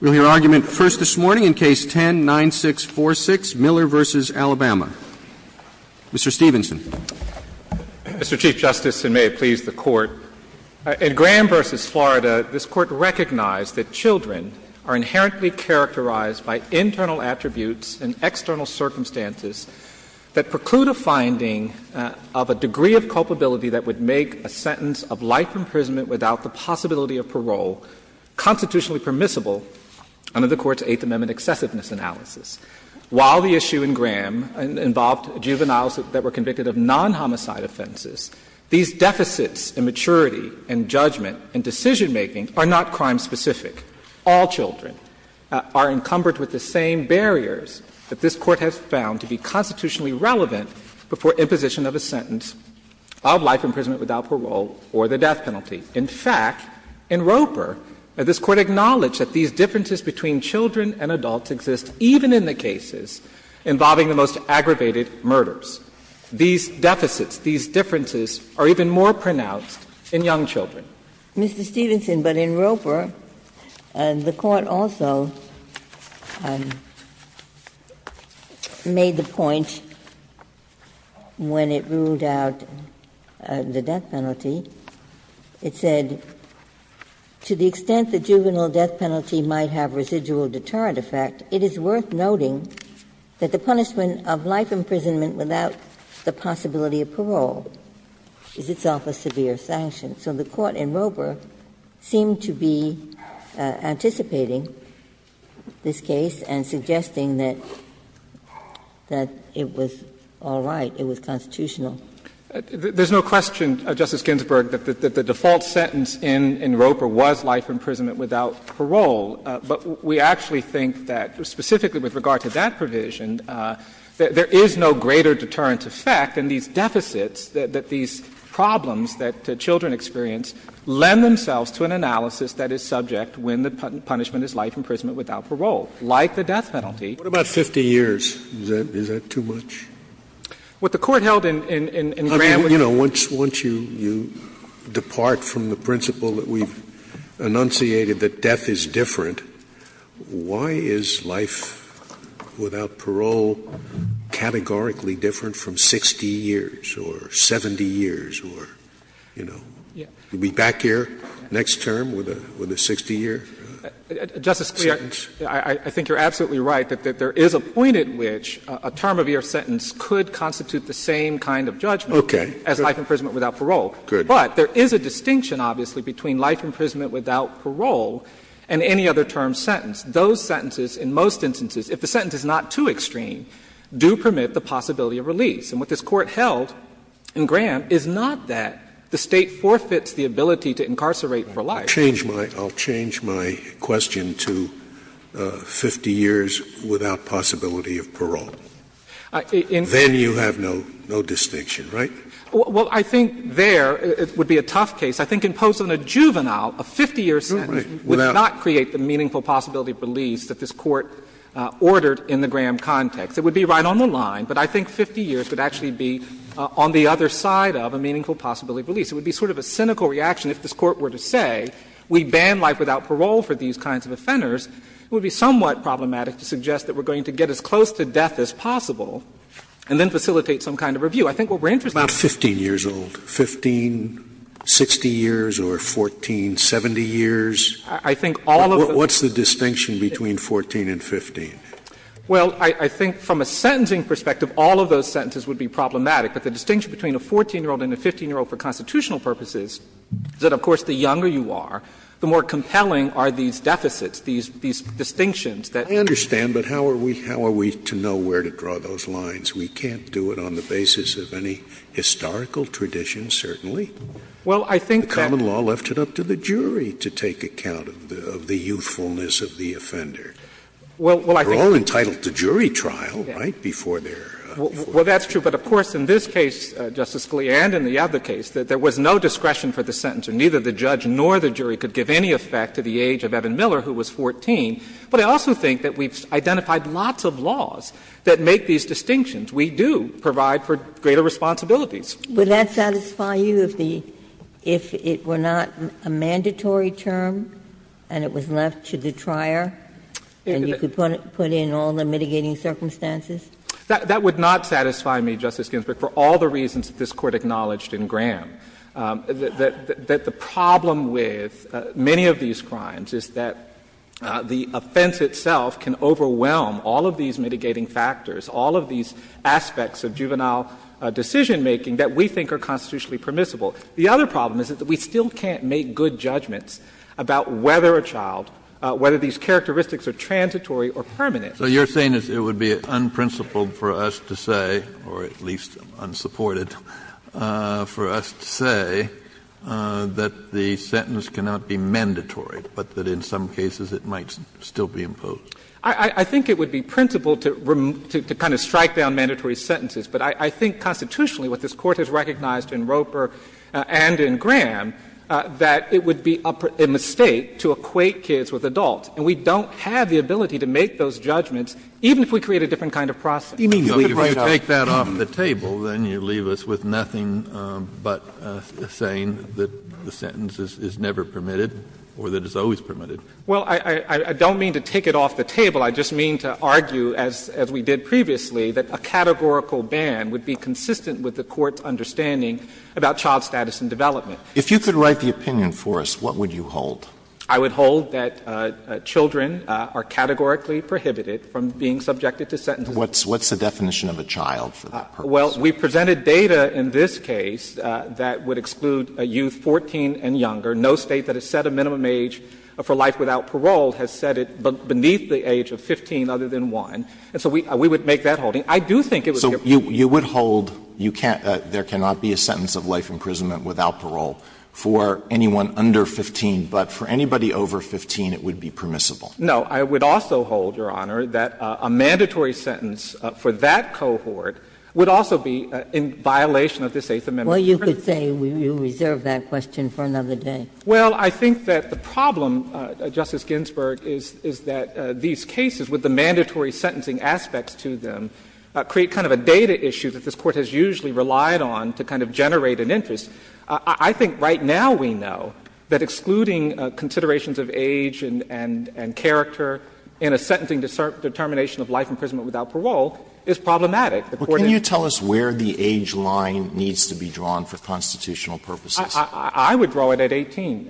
We'll hear argument first this morning in Case 10-9646, Miller v. Alabama. Mr. Stevenson. Mr. Chief Justice, and may it please the Court, in Graham v. Florida, this Court recognized that children are inherently characterized by internal attributes and external circumstances that preclude a finding of a degree of culpability that would make a sentence of life imprisonment without the possibility of parole constitutionally permissible under the Court's Eighth Amendment excessiveness analysis. While the issue in Graham involved juveniles that were convicted of non-homicide offenses, these deficits in maturity and judgment and decision-making are not crime specific. All children are encumbered with the same barriers that this Court has found to be constitutionally relevant before imposition of a sentence of life imprisonment without parole or the death penalty. In fact, in Roper, this Court acknowledged that these differences between children and adults exist even in the cases involving the most aggravated murders. These deficits, these differences are even more pronounced in young children. Mr. Stevenson, but in Roper, the Court also made the point when it ruled out the death penalty, it said, to the extent the juvenile death penalty might have residual deterrent effect, it is worth noting that the punishment of life imprisonment without the possibility of parole is itself a severe sanction. So the Court in Roper seemed to be anticipating this case and suggesting that it was all right, it was constitutional. There's no question, Justice Ginsburg, that the default sentence in Roper was life imprisonment without parole. But we actually think that specifically with regard to that provision, there is no greater deterrent effect in these deficits, that these problems that children experience lend themselves to an analysis that is subject when the punishment is life imprisonment without parole, like the death penalty. What about 50 years? Is that too much? What the Court held in Graham was the same. Scalia, I mean, you know, once you depart from the principle that we've enunciated that death is different, why is life without parole categorically different from 60 years or 70 years or, you know, you'll be back here next term with a 60-year sentence? Justice Scalia, I think you're absolutely right that there is a point at which a term of your sentence could constitute the same kind of judgment as life imprisonment without parole. But there is a distinction, obviously, between life imprisonment without parole and any other term sentence. Those sentences, in most instances, if the sentence is not too extreme, do permit the possibility of release. And what this Court held in Graham is not that the State forfeits the ability to incarcerate for life. Scalia, I'll change my question to 50 years without possibility of parole. Then you have no distinction, right? Well, I think there it would be a tough case. I think imposing a juvenile, a 50-year sentence, would not create the meaningful possibility of release that this Court ordered in the Graham context. It would be right on the line, but I think 50 years would actually be on the other side of a meaningful possibility of release. It would be sort of a cynical reaction if this Court were to say we ban life without parole for these kinds of offenders. It would be somewhat problematic to suggest that we're going to get as close to death as possible and then facilitate some kind of review. I think what we're interested in is that. Scalia, about 15 years old, 15, 60 years, or 14, 70 years? I think all of those. What's the distinction between 14 and 15? Well, I think from a sentencing perspective, all of those sentences would be problematic. But the distinction between a 14-year-old and a 15-year-old for constitutional purposes is that, of course, the younger you are, the more compelling are these deficits, these distinctions that. I understand, but how are we to know where to draw those lines? We can't do it on the basis of any historical tradition, certainly. Well, I think that. The common law left it up to the jury to take account of the youthfulness of the offender. Well, I think. They're all entitled to jury trial, right, before their. Well, that's true, but of course, in this case, Justice Scalia, and in the other case, there was no discretion for the sentencer. Neither the judge nor the jury could give any effect to the age of Evan Miller, who was 14. But I also think that we've identified lots of laws that make these distinctions. We do provide for greater responsibilities. Ginsburg. Would that satisfy you if the – if it were not a mandatory term and it was left to the trier, and you could put in all the mitigating circumstances? That would not satisfy me, Justice Ginsburg, for all the reasons that this Court acknowledged in Graham. That the problem with many of these crimes is that the offense itself can overwhelm all of these mitigating factors, all of these aspects of juvenile decision-making that we think are constitutionally permissible. The other problem is that we still can't make good judgments about whether a child – whether these characteristics are transitory or permanent. So you're saying it would be unprincipled for us to say, or at least unsupported, for us to say that the sentence cannot be mandatory, but that in some cases it might still be imposed? I think it would be principled to kind of strike down mandatory sentences. But I think constitutionally what this Court has recognized in Roper and in Graham, that it would be a mistake to equate kids with adults. And we don't have the ability to make those judgments, even if we create a different kind of process. Kennedy, if you take that off the table, then you leave us with nothing but saying that the sentence is never permitted or that it's always permitted. Well, I don't mean to take it off the table. I just mean to argue, as we did previously, that a categorical ban would be consistent with the Court's understanding about child status and development. If you could write the opinion for us, what would you hold? I would hold that children are categorically prohibited from being subjected to sentences. What's the definition of a child for that purpose? Well, we presented data in this case that would exclude youth 14 and younger. No State that has set a minimum age for life without parole has set it beneath the age of 15 other than 1. And so we would make that holding. I do think it would be a prohibition. So you would hold you can't – there cannot be a sentence of life imprisonment without parole for anyone under 15, but for anybody over 15 it would be permissible? No. I would also hold, Your Honor, that a mandatory sentence for that cohort would also be in violation of this Eighth Amendment. Well, you could say we reserve that question for another day. Well, I think that the problem, Justice Ginsburg, is that these cases with the mandatory sentencing aspects to them create kind of a data issue that this Court has usually relied on to kind of generate an interest. I think right now we know that excluding considerations of age and character in a sentencing determination of life imprisonment without parole is problematic. Well, can you tell us where the age line needs to be drawn for constitutional purposes? I would draw it at 18,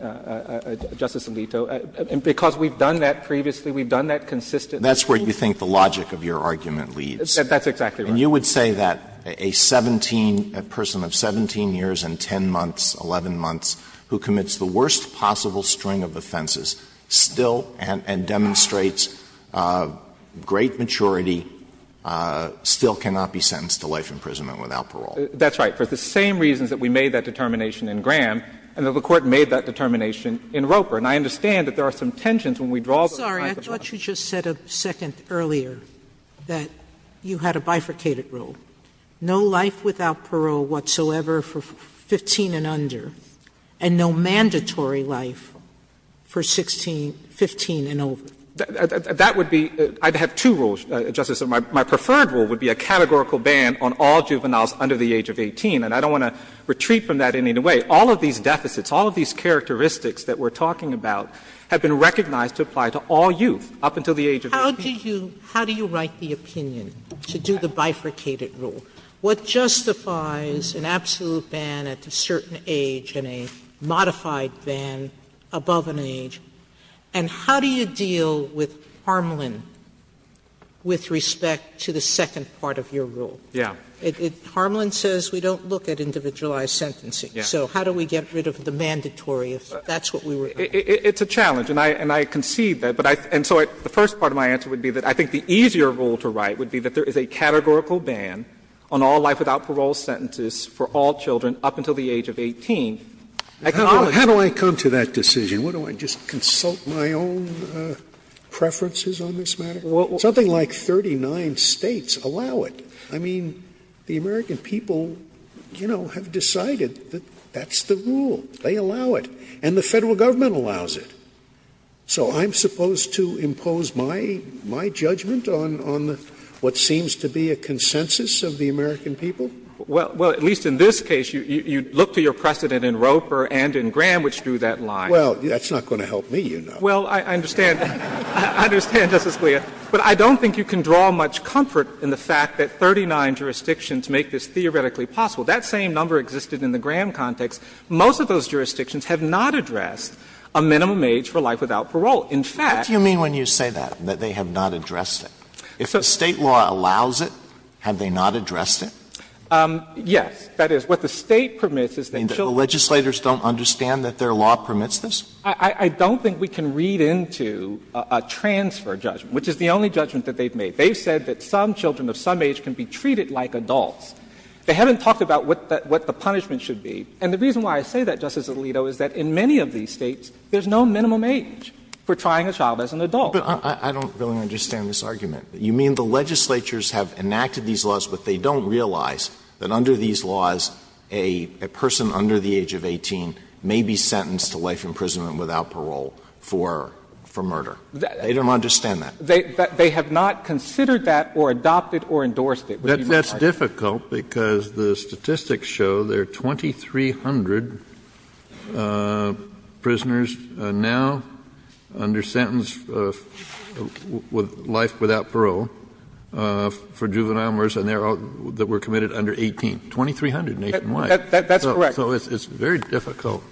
Justice Alito, because we've done that previously. We've done that consistently. That's where you think the logic of your argument leads. That's exactly right. And you would say that a 17, a person of 17 years and 10 months, 11 months, who commits the worst possible string of offenses, still and demonstrates great maturity, still cannot be sentenced to life imprisonment without parole. That's right, for the same reasons that we made that determination in Graham and that the Court made that determination in Roper. And I understand that there are some tensions when we draw those kinds of things. Sotomayor, I'm sorry, I thought you just said a second earlier that you had a bifurcated rule, no life without parole whatsoever for 15 and under, and no mandatory life for 16, 15 and over. That would be — I'd have two rules, Justice Sotomayor. My preferred rule would be a categorical ban on all juveniles under the age of 18, and I don't want to retreat from that in any way. All of these deficits, all of these characteristics that we're talking about have been recognized to apply to all youth up until the age of 18. Sotomayor, how do you write the opinion to do the bifurcated rule? What justifies an absolute ban at a certain age and a modified ban above an age? And how do you deal with Harmland with respect to the second part of your rule? Yeah. Harmland says we don't look at individualized sentencing. Yeah. So how do we get rid of the mandatory if that's what we were going to do? It's a challenge, and I concede that. But I — and so the first part of my answer would be that I think the easier rule to write would be that there is a categorical ban on all life without parole sentences for all children up until the age of 18. How do I come to that decision? What, do I just consult my own preferences on this matter? Something like 39 States allow it. I mean, the American people, you know, have decided that that's the rule. They allow it. And the Federal Government allows it. So I'm supposed to impose my judgment on what seems to be a consensus of the American people? Well, at least in this case, you look to your precedent in Roper and in Graham, which drew that line. Well, that's not going to help me, you know. Well, I understand. I understand, Justice Scalia. But I don't think you can draw much comfort in the fact that 39 jurisdictions make this theoretically possible. That same number existed in the Graham context. Most of those jurisdictions have not addressed a minimum age for life without parole. In fact — What do you mean when you say that, that they have not addressed it? If the State law allows it, have they not addressed it? Yes. That is, what the State permits is that children — You mean that the legislators don't understand that their law permits this? I don't think we can read into a transfer judgment, which is the only judgment that they've made. They've said that some children of some age can be treated like adults. They haven't talked about what the punishment should be. And the reason why I say that, Justice Alito, is that in many of these States, there's no minimum age for trying a child as an adult. But I don't really understand this argument. You mean the legislatures have enacted these laws, but they don't realize that under these laws, a person under the age of 18 may be sentenced to life imprisonment without parole for murder? They don't understand that. They have not considered that or adopted or endorsed it. That's difficult, because the statistics show there are 2,300 prisoners now under sentence of life without parole for juvenile murders, and there are — that were committed under 18, 2,300 nationwide. That's correct. So it's very difficult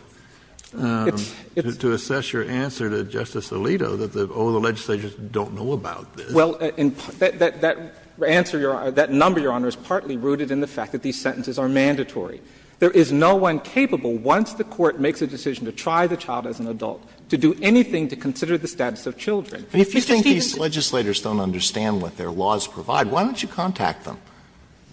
to assess your answer to Justice Alito that, oh, the legislatures don't know about this. Well, that answer, Your Honor — that number, Your Honor, is partly rooted in the fact that these sentences are mandatory. There is no one capable, once the Court makes a decision to try the child as an adult, to do anything to consider the status of children. If you think these legislators don't understand what their laws provide, why don't you contact them?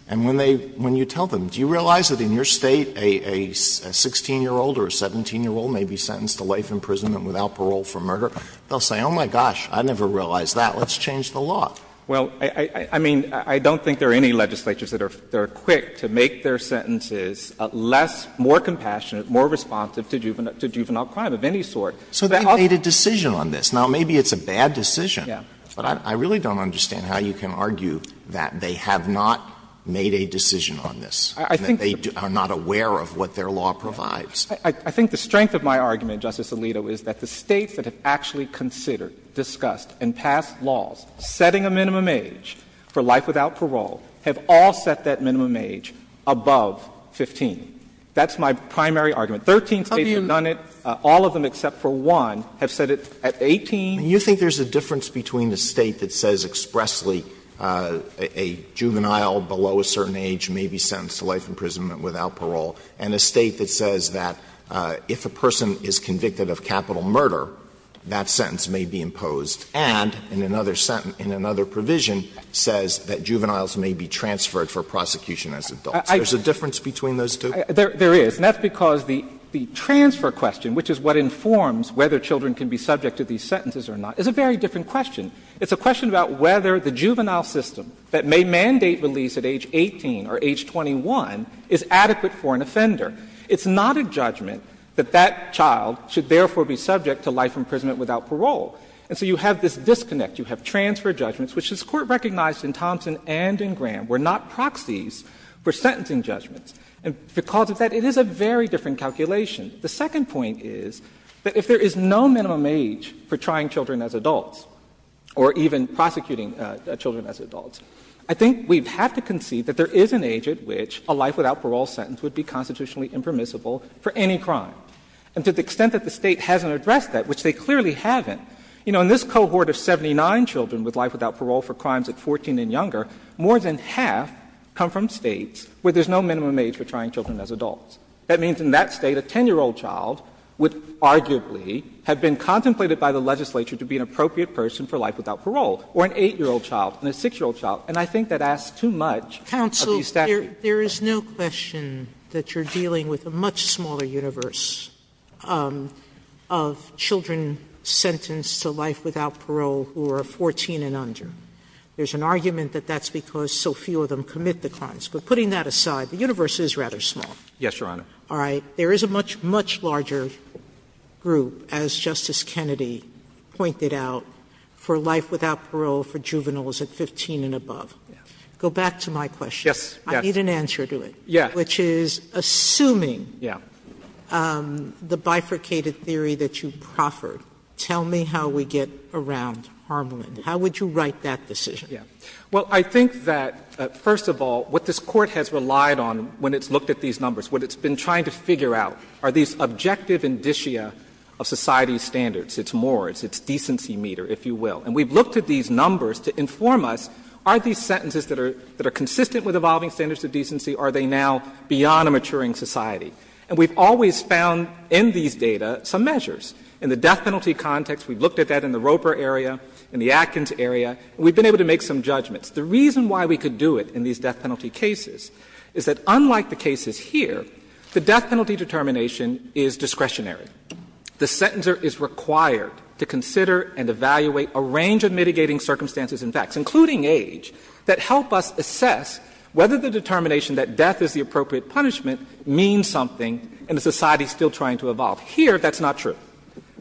And when they — when you tell them, do you realize that in your State, a 16-year-old or a 17-year-old may be sentenced to life imprisonment without parole for murder, they'll say, oh, my gosh, I never realized that. Let's change the law. Well, I mean, I don't think there are any legislatures that are quick to make their sentences less — more compassionate, more responsive to juvenile crime of any sort. So they've made a decision on this. Now, maybe it's a bad decision, but I really don't understand how you can argue that they have not made a decision on this, that they are not aware of what their law provides. I think the strength of my argument, Justice Alito, is that the States that have actually considered, discussed, and passed laws setting a minimum age for life without parole have all set that minimum age above 15. That's my primary argument. Thirteen States have done it, all of them except for one, have set it at 18. Alito Do you think there's a difference between a State that says expressly a juvenile below a certain age may be sentenced to life imprisonment without parole, and a State that says that if a person is convicted of capital murder, that sentence may be imposed, and in another sentence, in another provision, says that juveniles may be transferred for prosecution as adults? There's a difference between those two? There is. And that's because the transfer question, which is what informs whether children can be subject to these sentences or not, is a very different question. It's a question about whether the juvenile system that may mandate release at age 18 or age 21 is adequate for an offender. It's not a judgment that that child should therefore be subject to life imprisonment without parole. And so you have this disconnect. You have transfer judgments, which this Court recognized in Thompson and in Graham were not proxies for sentencing judgments. And because of that, it is a very different calculation. The second point is that if there is no minimum age for trying children as adults or even prosecuting children as adults, I think we have to concede that there is an age at which a life without parole sentence would be constitutionally impermissible for any crime. And to the extent that the State hasn't addressed that, which they clearly haven't, you know, in this cohort of 79 children with life without parole for crimes at 14 and younger, more than half come from States where there is no minimum age for trying children as adults. That means in that State a 10-year-old child would arguably have been contemplated by the legislature to be an appropriate person for life without parole, or an 8-year-old child and a 6-year-old child. And I think that asks too much of the statute. Sotomayor, there is no question that you are dealing with a much smaller universe of children sentenced to life without parole who are 14 and under. There is an argument that that's because so few of them commit the crimes. But putting that aside, the universe is rather small. Yes, Your Honor. All right. There is a much, much larger group, as Justice Kennedy pointed out, for life without Go back to my question. Yes, yes. I need an answer to it, which is assuming the bifurcated theory that you proffered, tell me how we get around Harmoland. How would you write that decision? Well, I think that first of all, what this Court has relied on when it's looked at these numbers, what it's been trying to figure out are these objective indicia of society's standards. It's Moore. It's its decency meter, if you will. And we've looked at these numbers to inform us, are these sentences that are consistent with evolving standards of decency, are they now beyond a maturing society? And we've always found in these data some measures. In the death penalty context, we've looked at that in the Roper area, in the Atkins area, and we've been able to make some judgments. The reason why we could do it in these death penalty cases is that unlike the cases here, the death penalty determination is discretionary. The sentencer is required to consider and evaluate a range of mitigating circumstances and facts, including age, that help us assess whether the determination that death is the appropriate punishment means something and the society is still trying to evolve. Here, that's not true.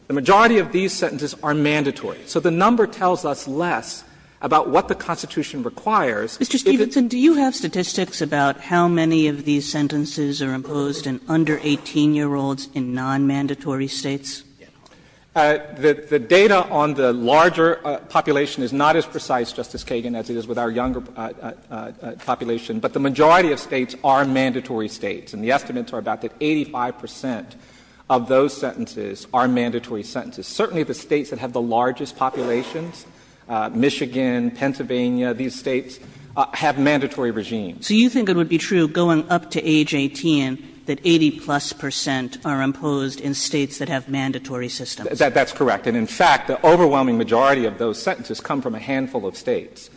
The majority of these sentences are mandatory. So the number tells us less about what the Constitution requires. If it's a decent society. Kagan. The data on the larger population is not as precise, Justice Kagan, as it is with our younger population, but the majority of States are mandatory States. And the estimates are about that 85 percent of those sentences are mandatory sentences. Certainly the States that have the largest populations, Michigan, Pennsylvania, these States have mandatory regimes. Kagan. So you think it would be true, going up to age 18, that 80 plus percent are imposed in States that have mandatory systems? That's correct. And in fact, the overwhelming majority of those sentences come from a handful of States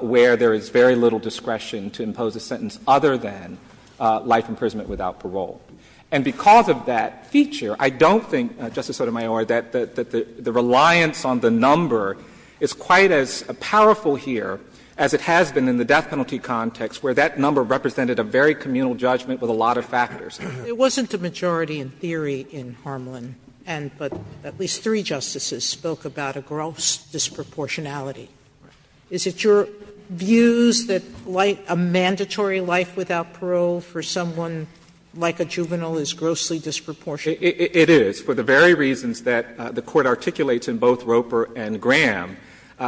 where there is very little discretion to impose a sentence other than life imprisonment without parole. And because of that feature, I don't think, Justice Sotomayor, that the reliance on the number is quite as powerful here as it has been in the death penalty context, where that number represented a very communal judgment with a lot of factors. Sotomayor, it wasn't a majority in theory in Harmland, but at least three justices spoke about a gross disproportionality. Is it your views that a mandatory life without parole for someone like a juvenile is grossly disproportionate? It is, for the very reasons that the Court articulates in both Roper and Graham.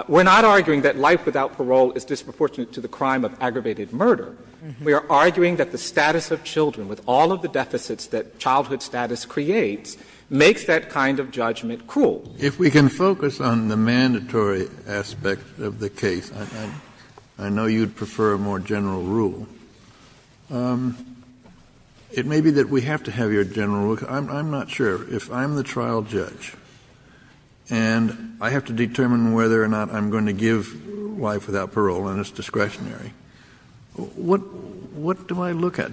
We're not arguing that life without parole is disproportionate to the crime of aggravated murder. We are arguing that the status of children, with all of the deficits that childhood status creates, makes that kind of judgment cruel. If we can focus on the mandatory aspect of the case, I know you'd prefer a more general rule. It may be that we have to have your general rule. I'm not sure. If I'm the trial judge and I have to determine whether or not I'm going to give life without parole and it's discretionary, what do I look at?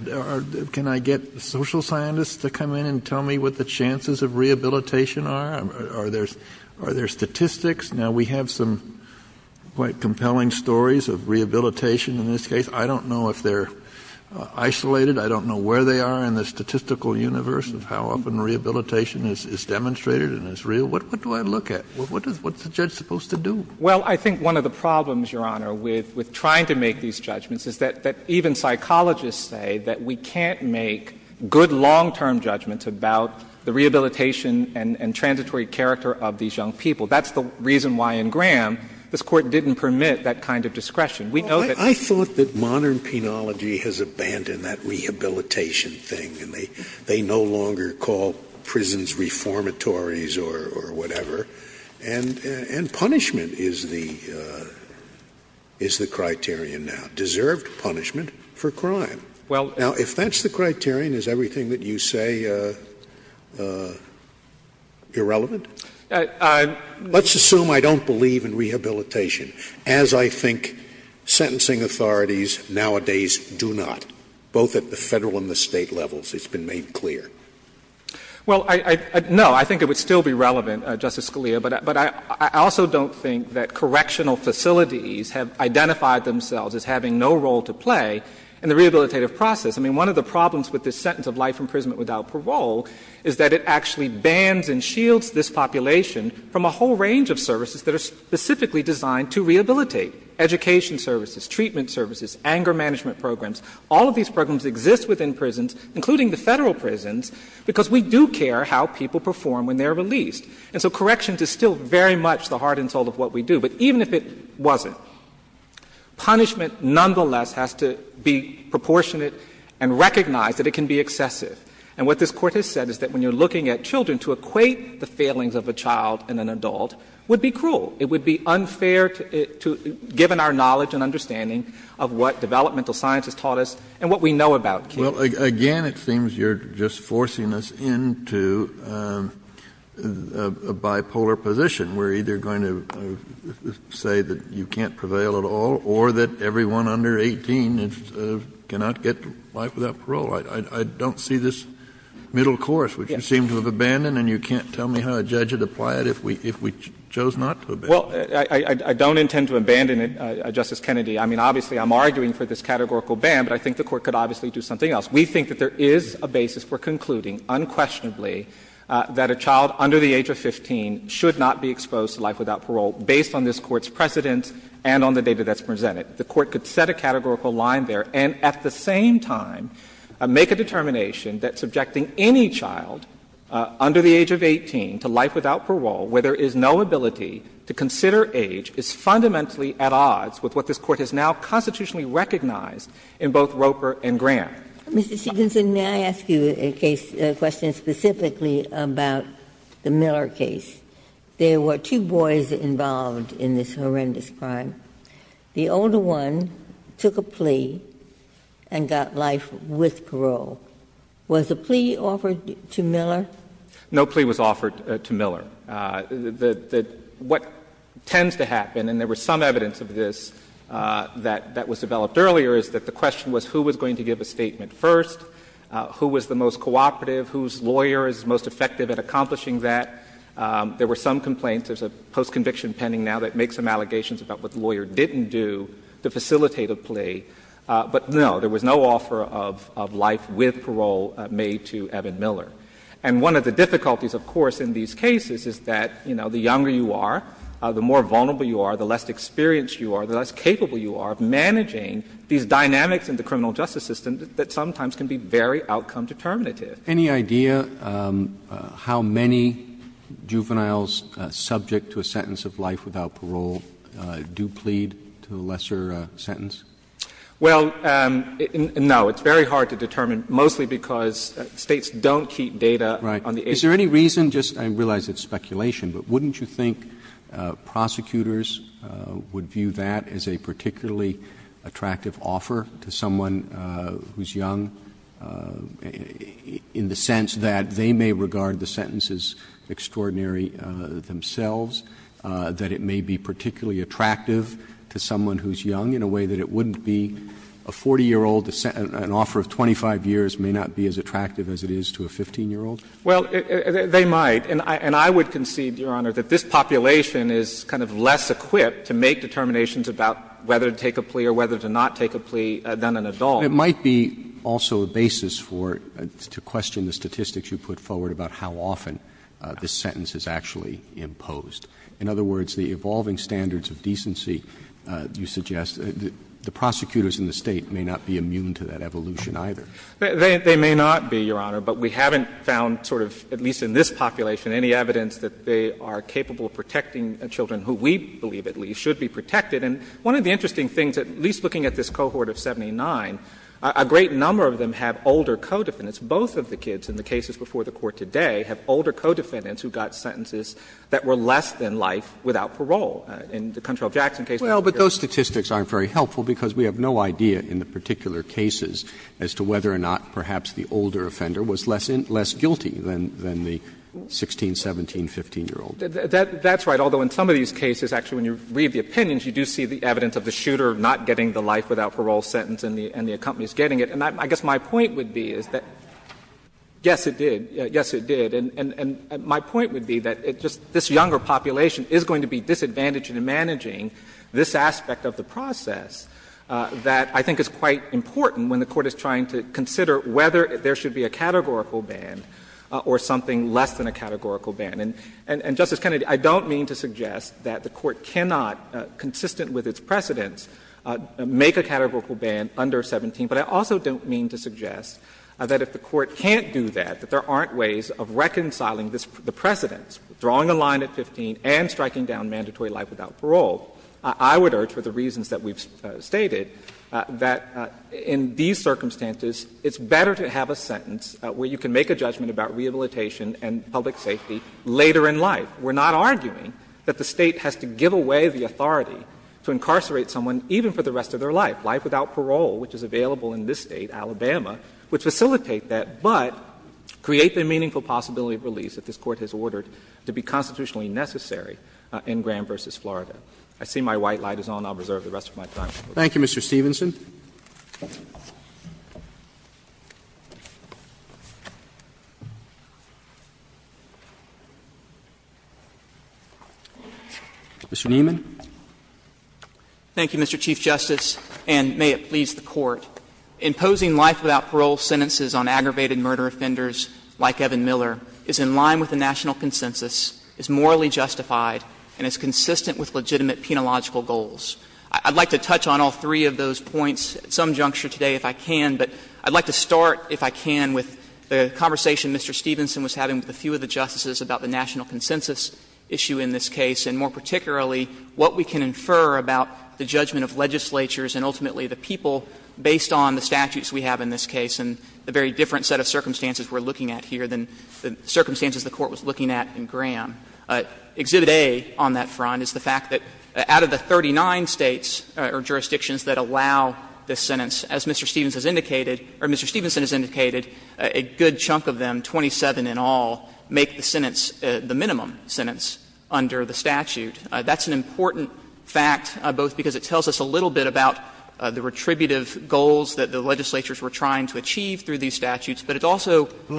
Can I get social scientists to come in and tell me what the chances of rehabilitation are? Are there statistics? Now, we have some quite compelling stories of rehabilitation in this case. I don't know if they're isolated. I don't know where they are in the statistical universe of how often rehabilitation is demonstrated and is real. What do I look at? What's the judge supposed to do? Well, I think one of the problems, Your Honor, with trying to make these judgments is that even psychologists say that we can't make good long-term judgments about the rehabilitation and transitory character of these young people. That's the reason why in Graham this Court didn't permit that kind of discretion. We know that they can't do that. I thought that modern penology has abandoned that rehabilitation thing and they no longer call prisons reformatories or whatever. And punishment is the criterion now, deserved punishment for crime. Now, if that's the criterion, is everything that you say irrelevant? Let's assume I don't believe in rehabilitation, as I think sentencing authorities nowadays do not, both at the Federal and the State levels. It's been made clear. Well, no, I think it would still be relevant, Justice Scalia, but I also don't think that correctional facilities have identified themselves as having no role to play in the rehabilitative process. I mean, one of the problems with this sentence of life imprisonment without parole is that it actually bans and shields this population from a whole range of services that are specifically designed to rehabilitate. Education services, treatment services, anger management programs, all of these programs exist within prisons, including the Federal prisons, because we do care how people perform when they are released. And so corrections is still very much the heart and soul of what we do. But even if it wasn't, punishment nonetheless has to be proportionate and recognize that it can be excessive. And what this Court has said is that when you're looking at children, to equate the failings of a child and an adult would be cruel. It would be unfair to — given our knowledge and understanding of what developmental science has taught us and what we know about kids. Kennedy. Well, again, it seems you're just forcing us into a bipolar position. We're either going to say that you can't prevail at all or that everyone under 18 cannot get life without parole. I don't see this middle course, which you seem to have abandoned and you can't tell me how a judge would apply it if we chose not to abandon it. Well, I don't intend to abandon it, Justice Kennedy. I mean, obviously, I'm arguing for this categorical ban, but I think the Court could obviously do something else. We think that there is a basis for concluding unquestionably that a child under the age of 15 should not be exposed to life without parole based on this Court's precedents and on the data that's presented. The Court could set a categorical line there and at the same time make a determination that subjecting any child under the age of 18 to life without parole where there is no with what this Court has now constitutionally recognized in both Roper and Grant. Mr. Stevenson, may I ask you a case question specifically about the Miller case? There were two boys involved in this horrendous crime. The older one took a plea and got life with parole. Was a plea offered to Miller? No plea was offered to Miller. What tends to happen, and there was some evidence of this that was developed earlier, is that the question was who was going to give a statement first, who was the most cooperative, whose lawyer is most effective at accomplishing that. There were some complaints. There's a post-conviction pending now that makes some allegations about what the lawyer didn't do to facilitate a plea, but no, there was no offer of life with parole made to Evan Miller. And one of the difficulties, of course, in these cases is that, you know, the younger you are, the more vulnerable you are, the less experienced you are, the less capable you are of managing these dynamics in the criminal justice system that sometimes can be very outcome determinative. Any idea how many juveniles subject to a sentence of life without parole do plead to a lesser sentence? Well, no. It's very hard to determine, mostly because States don't keep data on the age of the person. Roberts Is there any reason, just I realize it's speculation, but wouldn't you think prosecutors would view that as a particularly attractive offer to someone who's young, in the sense that they may regard the sentences extraordinary themselves, that it may be particularly attractive to someone who's young, in a way that it wouldn't be a 40-year-old an offer of 25 years may not be as attractive as it is to a 15-year-old? Well, they might. And I would concede, Your Honor, that this population is kind of less equipped to make determinations about whether to take a plea or whether to not take a plea than an adult. It might be also a basis for, to question the statistics you put forward about how often the sentence is actually imposed. In other words, the evolving standards of decency, you suggest, the prosecutors in the State may not be immune to that evolution, either. They may not be, Your Honor, but we haven't found sort of, at least in this population, any evidence that they are capable of protecting children who we believe, at least, should be protected. And one of the interesting things, at least looking at this cohort of 79, a great number of them have older co-defendants. Both of the kids in the cases before the Court today have older co-defendants who got sentences that were less than life without parole. In the Control Jackson case. Roberts, those statistics aren't very helpful, because we have no idea in the particular cases as to whether or not perhaps the older offender was less guilty than the 16, 17, 15-year-old. That's right, although in some of these cases, actually, when you read the opinions, you do see the evidence of the shooter not getting the life without parole sentence and the accompanies getting it. And I guess my point would be is that, yes, it did. Yes, it did. And my point would be that it just this younger population is going to be disadvantaged in managing this aspect of the process that I think is quite important when the Court is trying to consider whether there should be a categorical ban or something less than a categorical ban. And, Justice Kennedy, I don't mean to suggest that the Court cannot, consistent with its precedents, make a categorical ban under 17. But I also don't mean to suggest that if the Court can't do that, that there aren't ways of reconciling the precedents, drawing a line at 15 and striking down mandatory life without parole. I would urge, for the reasons that we've stated, that in these circumstances, it's better to have a sentence where you can make a judgment about rehabilitation and public safety later in life. We're not arguing that the State has to give away the authority to incarcerate someone even for the rest of their life, life without parole, which is available in this State, Alabama, which facilitate that, but create the meaningful possibility of release that this Court has ordered to be constitutionally necessary in Graham v. Florida. I see my white light is on. I'll reserve the rest of my time. Roberts. Roberts. Thank you, Mr. Stevenson. Mr. Niemann. Thank you, Mr. Chief Justice, and may it please the Court. Imposing life without parole sentences on aggravated murder offenders like Evan Miller is in line with the national consensus, is morally justified, and is consistent with legitimate penological goals. I'd like to touch on all three of those points at some juncture today if I can, but I'd like to start, if I can, with the conversation Mr. Stevenson was having with a few of the justices about the national consensus issue in this case, and more particularly, what we can infer about the judgment of legislatures and ultimately the people based on the statutes we have in this case and the very different set of circumstances we're looking at here than the circumstances the Court was looking at in Graham. Exhibit A on that front is the fact that out of the 39 States or jurisdictions that allow this sentence, as Mr. Stevenson has indicated, or Mr. Stevenson has indicated, a good chunk of them, 27 in all, make the sentence the minimum sentence under the statute. That's an important fact, both because it tells us a little bit about the retributive goals that the legislatures were trying to achieve through these statutes, but it's also the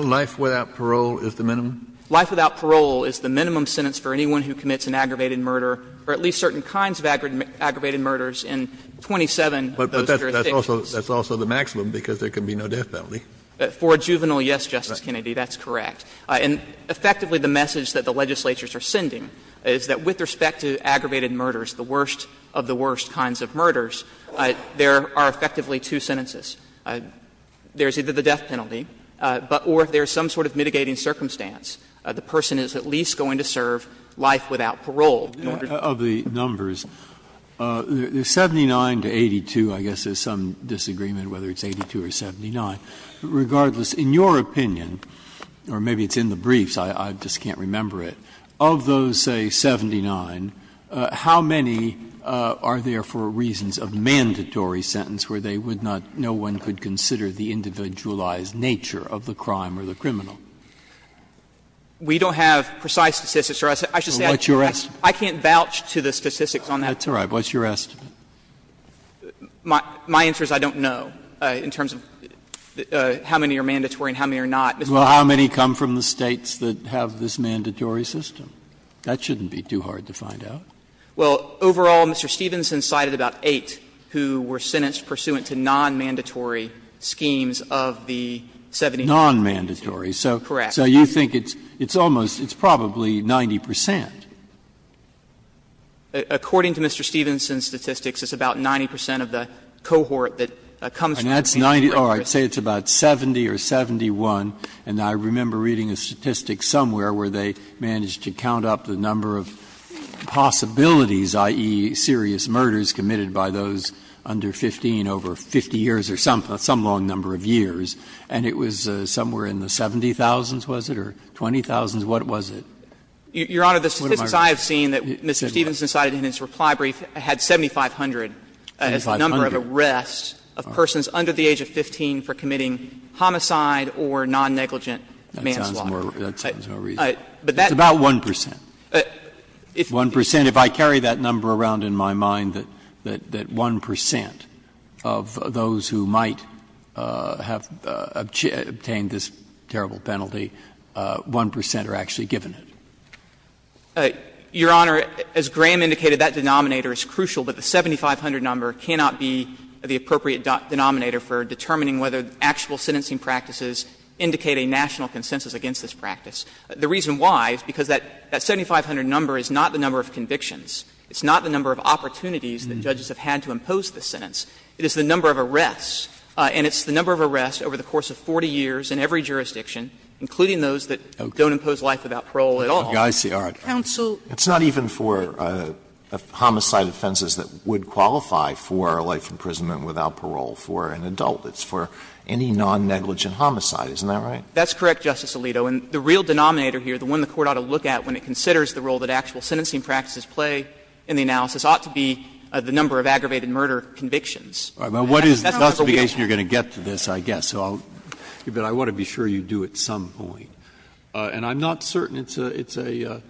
minimum sentence for anyone who commits an aggravated murder, or at least certain kinds of aggravated murders, in 27 of those jurisdictions. Kennedy, that's correct. And effectively, the message that the legislatures are sending is that with respect to aggravated murders, the worst of the worst kinds of murders, there are effectively two sentences. There's either the death penalty, or if there's some sort of mitigating circumstance, the person is at least going to serve life without parole. Breyer, of the numbers, 79 to 82, I guess there's some disagreement whether it's 82 or 79. Regardless, in your opinion, or maybe it's in the briefs, I just can't remember it. Of those, say, 79, how many are there for reasons of mandatory sentence where they would not, no one could consider the individualized nature of the crime or the criminal? We don't have precise statistics, Your Honor. I should say I can't vouch to the statistics on that. That's all right. What's your estimate? My answer is I don't know, in terms of how many are mandatory and how many are not. Well, how many come from the States that have this mandatory system? That shouldn't be too hard to find out. Well, overall, Mr. Stevenson cited about 8 who were sentenced pursuant to nonmandatory schemes of the 78. Nonmandatory. Correct. So you think it's almost, it's probably 90 percent. According to Mr. Stevenson's statistics, it's about 90 percent of the cohort that comes from mandatory. And that's 90, oh, I'd say it's about 70 or 71, and I remember reading a statistic somewhere where they managed to count up the number of possibilities, i.e., serious murders committed by those under 15 over 50 years or some long number of years, and it was somewhere in the 70,000s, was it, or 20,000s, what was it? Your Honor, the statistics I have seen that Mr. Stevenson cited in his reply brief had 7,500 as the number of arrests of persons under the age of 15 for committing homicide or nonnegligent manslaughter. That sounds more reasonable. It's about 1 percent. 1 percent. If I carry that number around in my mind, that 1 percent of those who might have obtained this terrible penalty, 1 percent are actually given it. Your Honor, as Graham indicated, that denominator is crucial, but the 7,500 number cannot be the appropriate denominator for determining whether actual sentencing practices indicate a national consensus against this practice. The reason why is because that 7,500 number is not the number of convictions. It's not the number of opportunities that judges have had to impose this sentence. It is the number of arrests, and it's the number of arrests over the course of 40 years in every jurisdiction, including those that don't impose life without parole at all. Sotomayor, it's not even for homicide offenses that would qualify for life imprisonment without parole for an adult. It's for any nonnegligent homicide, isn't that right? That's correct, Justice Alito. And the real denominator here, the one the Court ought to look at when it considers the role that actual sentencing practices play in the analysis, ought to be the number of aggravated murder convictions. That's not what we're looking at. But what is the justification you're going to get to this, I guess? I want to be sure you do at some point. And I'm not certain it's a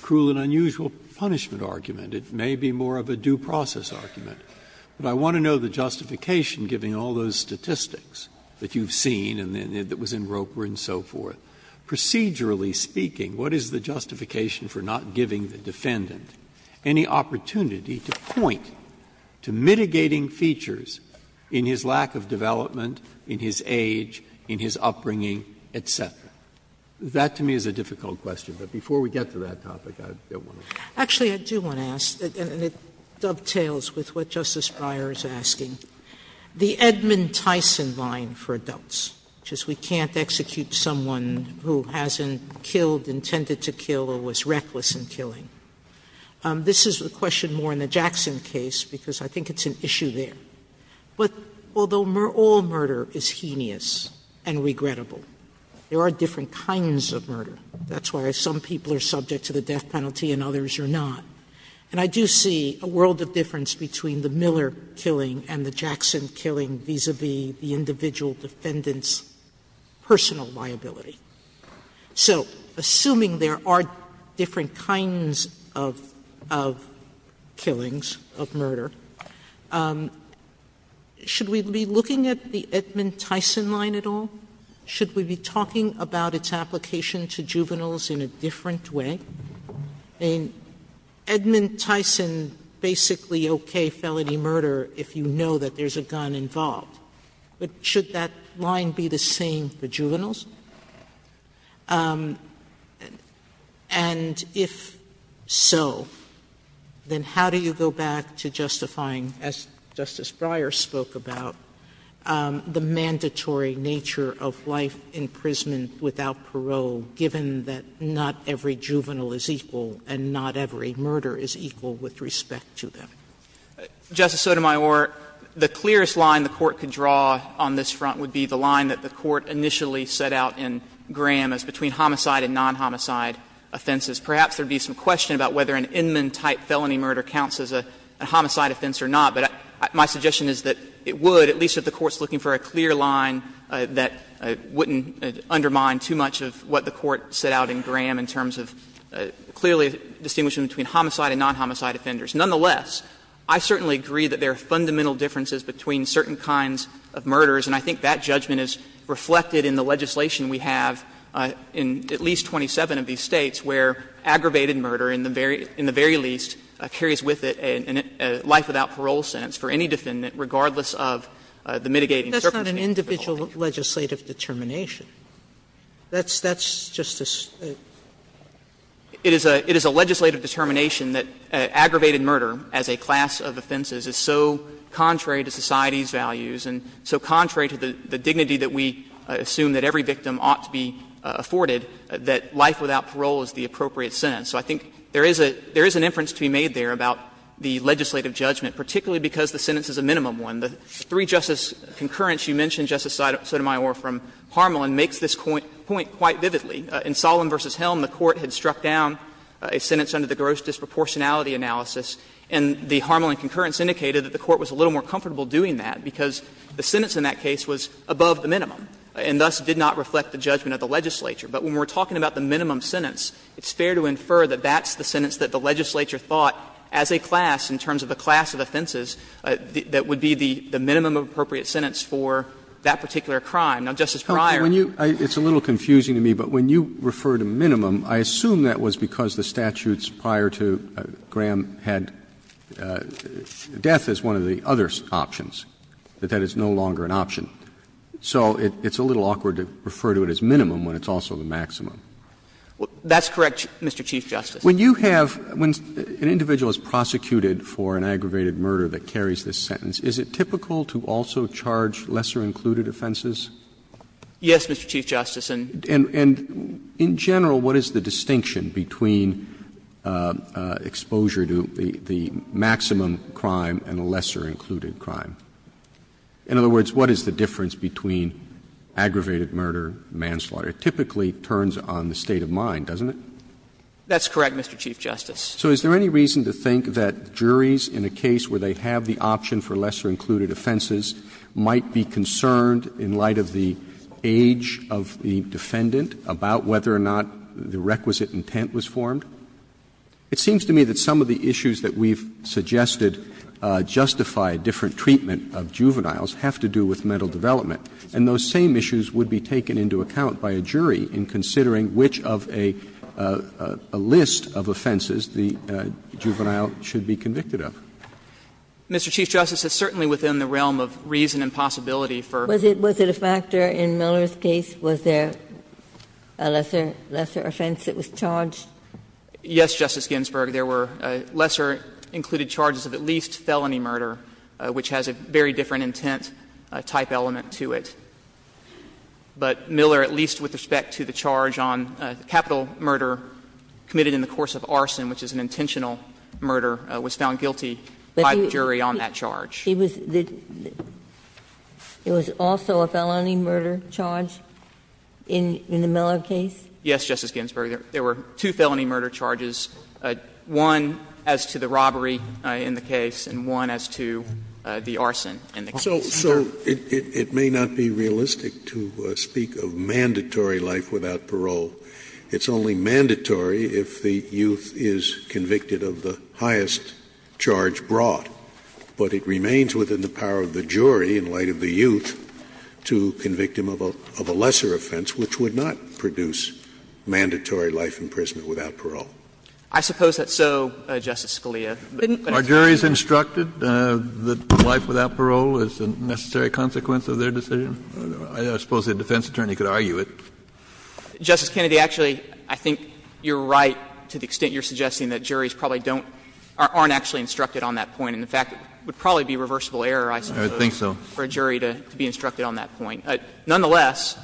cruel and unusual punishment argument. It may be more of a due process argument. But I want to know the justification, giving all those statistics that you've seen and that was in Roper and so forth. Procedurally speaking, what is the justification for not giving the defendant any opportunity to point to mitigating features in his lack of development, in his age, in his upbringing, et cetera? That, to me, is a difficult question. But before we get to that topic, I don't want to. Sotomayor, Actually, I do want to ask, and it dovetails with what Justice Breyer is asking, the Edmund Tyson line for adults, which is we can't execute someone who hasn't killed, intended to kill, or was reckless in killing. This is a question more in the Jackson case, because I think it's an issue there. But although all murder is heinous and regrettable, there are different kinds of murder. That's why some people are subject to the death penalty and others are not. And I do see a world of difference between the Miller killing and the Jackson killing vis-a-vis the individual defendant's personal liability. So assuming there are different kinds of killings, of murder, should we be looking at the Edmund Tyson line at all? Should we be talking about its application to juveniles in a different way? Edmund Tyson basically okayed felony murder if you know that there's a gun involved. But should that line be the same for juveniles? And if so, then how do you go back to justifying, as Justice Breyer spoke about, the mandatory nature of life imprisonment without parole, given that not every juvenile is equal and not every murder is equal with respect to them? Justice Sotomayor, the clearest line the Court could draw on this front would be the line that the Court initially set out in Graham as between homicide and non-homicide offenses. Perhaps there would be some question about whether an Inman-type felony murder counts as a homicide offense or not. But my suggestion is that it would, at least if the Court's looking for a clear line that wouldn't undermine too much of what the Court set out in Graham in terms of clearly distinguishing between homicide and non-homicide offenders. Nonetheless, I certainly agree that there are fundamental differences between certain kinds of murders, and I think that judgment is reflected in the legislation we have in at least 27 of these States where aggravated murder, in the very least, carries with it a life without parole sentence for any defendant, regardless of the mitigating circumstances. Sotomayor, that's not an individual legislative determination. That's just a state. It is a legislative determination that aggravated murder as a class of offenses is so contrary to society's values and so contrary to the dignity that we assume that every victim ought to be afforded, that life without parole is the appropriate sentence. So I think there is an inference to be made there about the legislative judgment, particularly because the sentence is a minimum one. The three-justice concurrence you mentioned, Justice Sotomayor, from Harmelin, makes this point quite vividly. In Solem v. Helm, the Court had struck down a sentence under the gross disproportionality analysis, and the Harmelin concurrence indicated that the Court was a little more comfortable doing that because the sentence in that case was above the minimum and thus did not reflect the judgment of the legislature. But when we are talking about the minimum sentence, it's fair to infer that that's the sentence that the legislature thought as a class in terms of the class of offenses that would be the minimum appropriate sentence for that particular crime. Now, Justice Breyer. Roberts. Roberts. Roberts. It's a little confusing to me, but when you refer to minimum, I assume that was because the statutes prior to Graham had death as one of the other options, that that is no longer an option. So it's a little awkward to refer to it as minimum when it's also the maximum. That's correct, Mr. Chief Justice. When you have an individual is prosecuted for an aggravated murder that carries this sentence, is it typical to also charge lesser-included offenses? Yes, Mr. Chief Justice, and. And in general, what is the distinction between exposure to the maximum crime and a lesser-included crime? In other words, what is the difference between aggravated murder, manslaughter? It typically turns on the state of mind, doesn't it? That's correct, Mr. Chief Justice. So is there any reason to think that juries in a case where they have the option for lesser-included offenses might be concerned in light of the age of the defendant about whether or not the requisite intent was formed? It seems to me that some of the issues that we've suggested justify different treatment of juveniles have to do with mental development, and those same issues would be taken into account by a jury in considering which of a list of offenses the juvenile should be convicted of. Mr. Chief Justice, it's certainly within the realm of reason and possibility for. Was it a factor in Miller's case? Was there a lesser offense that was charged? Yes, Justice Ginsburg, there were lesser-included charges of at least felony murder, which has a very different intent type element to it. But Miller, at least with respect to the charge on capital murder committed in the course of arson, which is an intentional murder, was found guilty by the jury on that charge. It was also a felony murder charge in the Miller case? Yes, Justice Ginsburg. There were two felony murder charges, one as to the robbery in the case and one as to the arson in the case. So it may not be realistic to speak of mandatory life without parole. It's only mandatory if the youth is convicted of the highest charge brought. But it remains within the power of the jury, in light of the youth, to convict him of a lesser offense, which would not produce mandatory life imprisonment without parole. I suppose that's so, Justice Scalia. Are juries instructed that life without parole is a necessary consequence of their decision? I suppose a defense attorney could argue it. Justice Kennedy, actually, I think you're right to the extent you're suggesting that juries probably don't or aren't actually instructed on that point. And the fact would probably be a reversible error, I suppose, for a jury to be instructed on that point. Nonetheless,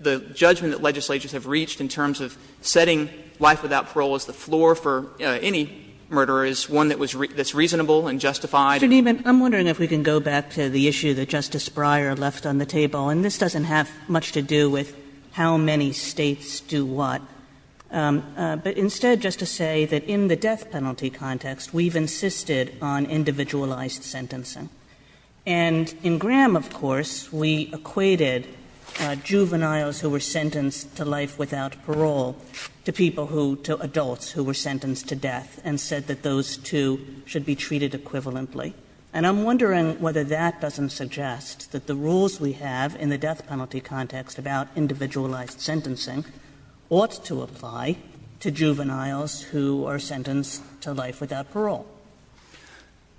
the judgment that legislatures have reached in terms of setting life without parole as the floor for any murderer is one that was reasonable Kagan. Kagan. Kagan. Kagan. I'm wondering if we can go back to the issue that Justice Breyer left on the table. And this doesn't have much to do with how many States do what. But instead, just to say that in the death penalty context, we've insisted on individualized sentencing. And in Graham, of course, we equated juveniles who were sentenced to life without parole to people who to adults who were sentenced to death and said that those two should be treated equivalently. And I'm wondering whether that doesn't suggest that the rules we have in the death penalty context about individualized sentencing ought to apply to juveniles who are sentenced to life without parole.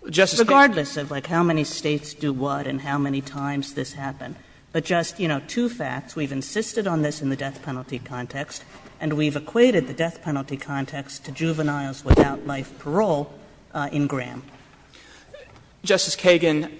Regardless of, like, how many States do what and how many times this happened. But just, you know, two facts. We've insisted on this in the death penalty context, and we've equated the death penalty context to juveniles without life parole in Graham. Justice Kagan,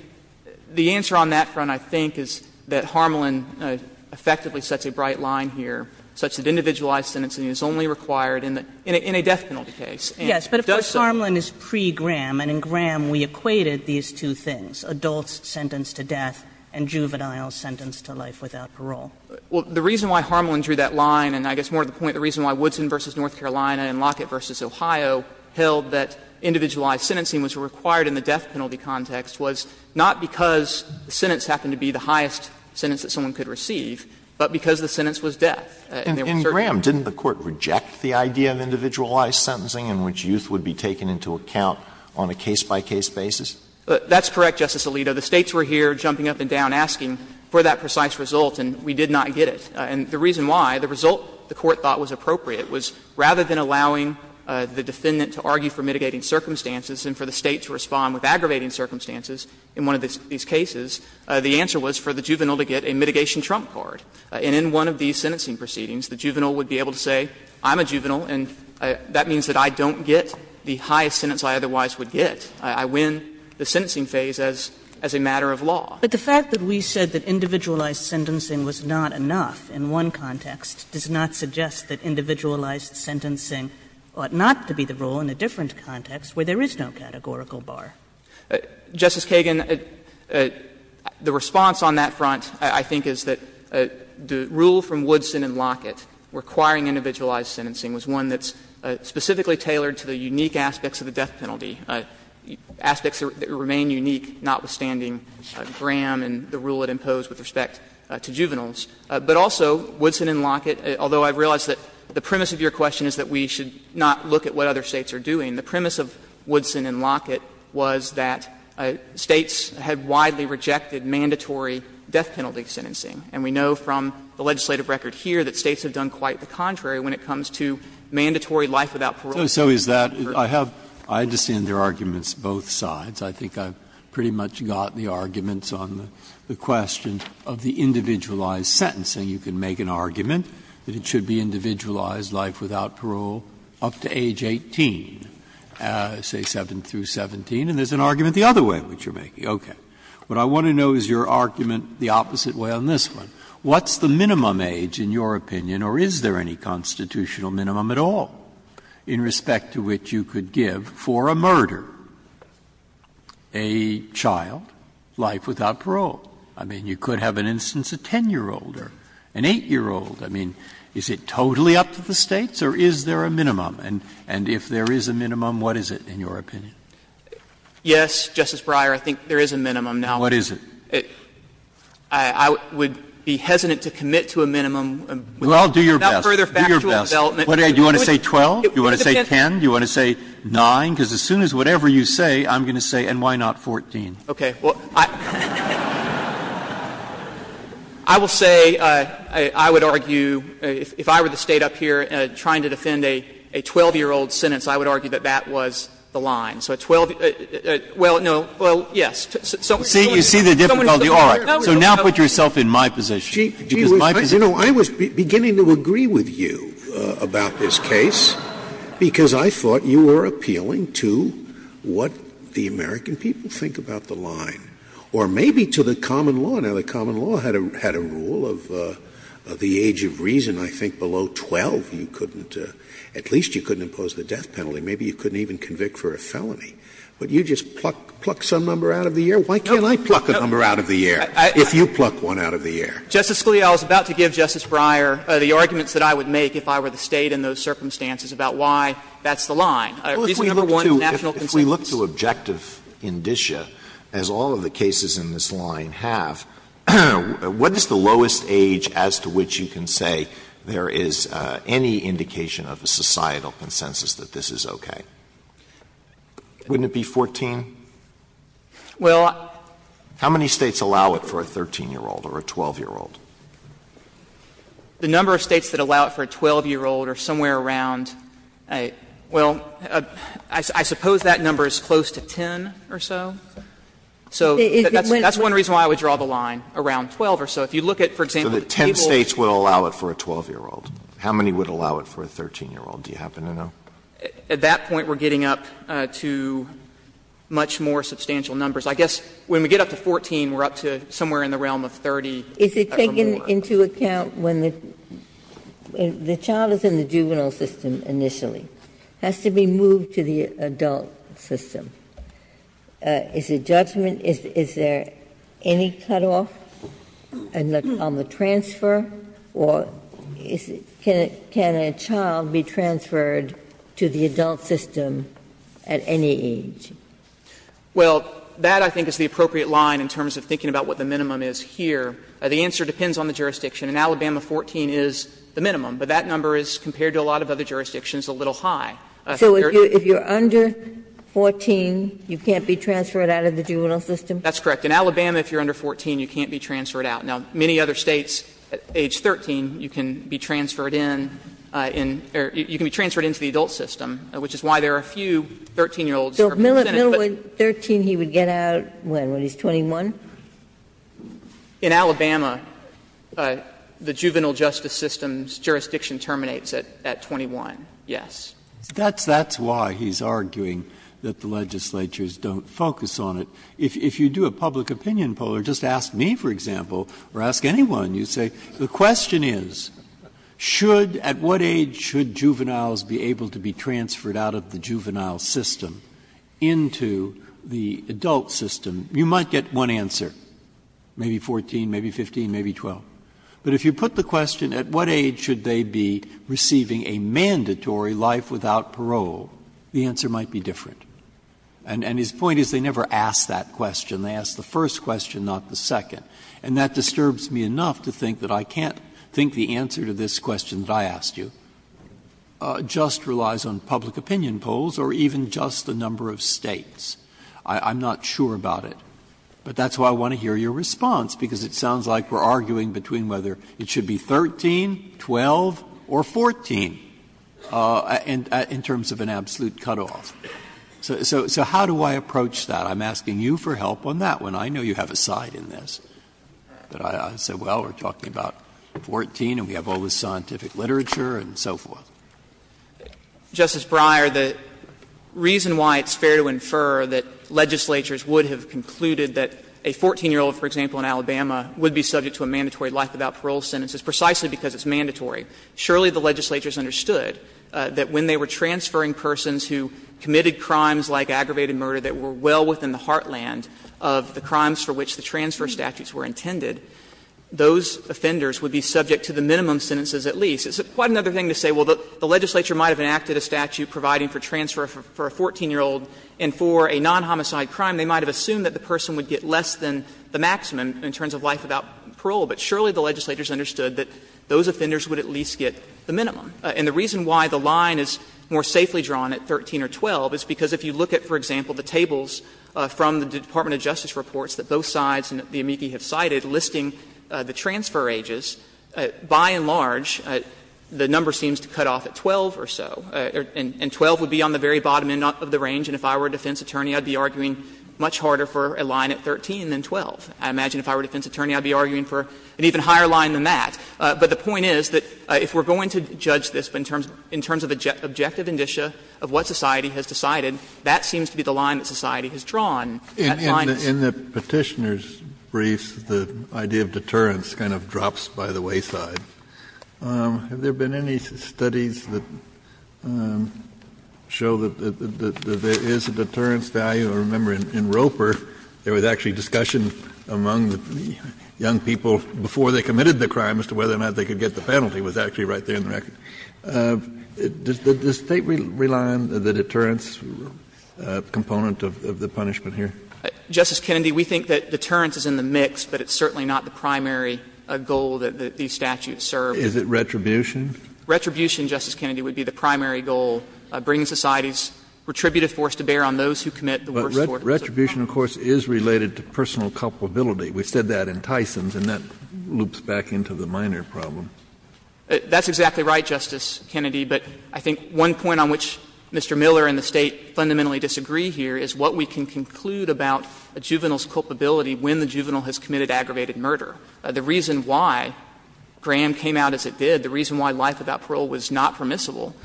the answer on that front, I think, is that Harmelin effectively sets a bright line here, such that individualized sentencing is only required in a death penalty case. And if it does so. Kagan, but, of course, Harmelin is pre-Graham, and in Graham we equated these two things, adults sentenced to death and juveniles sentenced to life without parole. Well, the reason why Harmelin drew that line, and I guess more to the point, the reason why Woodson v. North Carolina and Lockett v. Ohio held that individualized sentencing was required in the death penalty context was not because the sentence happened to be the highest sentence that someone could receive, but because the sentence was death. And there were certain cases where it was the highest sentence that someone could And that's the reason why Harmelin drew that line. And in Graham, didn't the Court reject the idea of individualized sentencing in which youth would be taken into account on a case-by-case basis? That's correct, Justice Alito. The States were here jumping up and down asking for that precise result, and we did not get it. And the reason why, the result the Court thought was appropriate was rather than The juvenile would be able to say, I'm a juvenile, and that means that I don't get the highest sentence I otherwise would get. I win the sentencing phase as a matter of law. But the fact that we said that individualized sentencing was not enough in one context does not suggest that individualized sentencing ought not to be the rule in a different context where there is no categorical bar. Justice Kagan, the response on that front, I think, is that the rule from Woodson and Lockett requiring individualized sentencing was one that's specifically tailored to the unique aspects of the death penalty, aspects that remain unique, notwithstanding Graham and the rule it imposed with respect to juveniles. But also, Woodson and Lockett, although I realize that the premise of your question is that we should not look at what other States are doing, the premise of Woodson and Lockett was that States had widely rejected mandatory death penalty sentencing. And we know from the legislative record here that States have done quite the contrary when it comes to mandatory life without parole. Breyer, I understand there are arguments on both sides. I think I've pretty much got the arguments on the question of the individualized sentencing. You can make an argument that it should be individualized life without parole up to age 18, say, 7 through 17, and there's an argument the other way in which you're making it. Okay. What I want to know is your argument the opposite way on this one. What's the minimum age, in your opinion, or is there any constitutional minimum at all in respect to which you could give for a murder a child, life without I mean, you could have, in instance, a 10-year-old or an 8-year-old. I mean, is it totally up to the States, or is there a minimum? And if there is a minimum, what is it, in your opinion? Yes, Justice Breyer, I think there is a minimum. Now, I would be hesitant to commit to a minimum without further factual development. Well, do your best. Do your best. Do you want to say 12, do you want to say 10, do you want to say 9? Because as soon as whatever you say, I'm going to say, and why not 14? Okay. Well, I will say I would argue, if I were the State up here trying to defend a 12-year-old sentence, I would argue that that was the line. So 12, well, no, well, yes, someone who is 12 years old, someone who is 12 years old, no, we don't care. So now put yourself in my position, because my position. Scalia, you know, I was beginning to agree with you about this case, because I thought you were appealing to what the American people think about the line, or maybe to the common law. Now, the common law had a rule of the age of reason, I think, below 12, you couldn't at least you couldn't impose the death penalty, maybe you couldn't even convict for a felony. Would you just pluck some number out of the air? Why can't I pluck a number out of the air if you pluck one out of the air? Justice Scalia, I was about to give Justice Breyer the arguments that I would make if I were the State in those circumstances about why that's the line. Reason number one, national consensus. If we look to objective indicia, as all of the cases in this line have, what is the indication of a societal consensus that this is okay? Wouldn't it be 14? How many States allow it for a 13-year-old or a 12-year-old? The number of States that allow it for a 12-year-old are somewhere around, well, I suppose that number is close to 10 or so. So that's one reason why I would draw the line around 12 or so. If you look at, for example, the tables. So the 10 States would allow it for a 12-year-old. How many would allow it for a 13-year-old? Do you happen to know? At that point, we're getting up to much more substantial numbers. I guess when we get up to 14, we're up to somewhere in the realm of 30. Ginsburg. Is it taken into account when the child is in the juvenile system initially, has to be moved to the adult system? Is the judgment, is there any cutoff on the transfer, or is it, is there any cutoff on the transfer? Can a child be transferred to the adult system at any age? Well, that I think is the appropriate line in terms of thinking about what the minimum is here. The answer depends on the jurisdiction. In Alabama, 14 is the minimum, but that number is, compared to a lot of other jurisdictions, a little high. So if you're under 14, you can't be transferred out of the juvenile system? That's correct. In Alabama, if you're under 14, you can't be transferred out. Now, many other States, at age 13, you can be transferred in, or you can be transferred into the adult system, which is why there are a few 13-year-olds who are presented. But 13, he would get out when? When he's 21? In Alabama, the juvenile justice system's jurisdiction terminates at 21, yes. That's why he's arguing that the legislatures don't focus on it. If you do a public opinion poll or just ask me, for example, or ask anyone, you say the question is, should at what age should juveniles be able to be transferred out of the juvenile system into the adult system, you might get one answer, maybe 14, maybe 15, maybe 12. But if you put the question, at what age should they be receiving a mandatory life without parole, the answer might be different. And his point is they never ask that question. They ask the first question, not the second. And that disturbs me enough to think that I can't think the answer to this question that I asked you just relies on public opinion polls or even just the number of States. I'm not sure about it. But that's why I want to hear your response, because it sounds like we're arguing between whether it should be 13, 12, or 14 in terms of an absolute cutoff. So how do I approach that? I'm asking you for help on that one. I know you have a side in this. But I say, well, we're talking about 14 and we have all this scientific literature and so forth. Justice Breyer, the reason why it's fair to infer that legislatures would have concluded that a 14-year-old, for example, in Alabama would be subject to a mandatory life without parole sentence is precisely because it's mandatory. Surely the legislatures understood that when they were transferring persons who committed crimes like aggravated murder that were well within the heartland of the crimes for which the transfer statutes were intended, those offenders would be subject to the minimum sentences at least. It's quite another thing to say, well, the legislature might have enacted a statute providing for transfer for a 14-year-old and for a non-homicide crime, they might have assumed that the person would get less than the maximum in terms of life without parole. But surely the legislatures understood that those offenders would at least get the minimum. And the reason why the line is more safely drawn at 13 or 12 is because if you look at, for example, the tables from the Department of Justice reports that both sides and the amici have cited listing the transfer ages, by and large, the number seems to cut off at 12 or so. And 12 would be on the very bottom end of the range, and if I were a defense attorney, I'd be arguing much harder for a line at 13 than 12. I imagine if I were a defense attorney, I'd be arguing for an even higher line than that. But the point is that if we're going to judge this in terms of objective indicia of what society has decided, that seems to be the line that society has drawn. That line is. Kennedy, in the Petitioner's briefs, the idea of deterrence kind of drops by the wayside. Have there been any studies that show that there is a deterrence value? I remember in Roper, there was actually discussion among the young people before they committed the crime as to whether or not they could get the penalty. It was actually right there in the record. Does the State rely on the deterrence component of the punishment here? Justice Kennedy, we think that deterrence is in the mix, but it's certainly not the primary goal that these statutes serve. Is it retribution? Retribution, Justice Kennedy, would be the primary goal, bringing society's retributive force to bear on those who commit the worst sorts of crimes. But retribution, of course, is related to personal culpability. We said that in Tyson's, and that loops back into the minor problem. That's exactly right, Justice Kennedy. But I think one point on which Mr. Miller and the State fundamentally disagree here is what we can conclude about a juvenile's culpability when the juvenile has committed aggravated murder. The reason why Graham came out as it did, the reason why life without parole was not The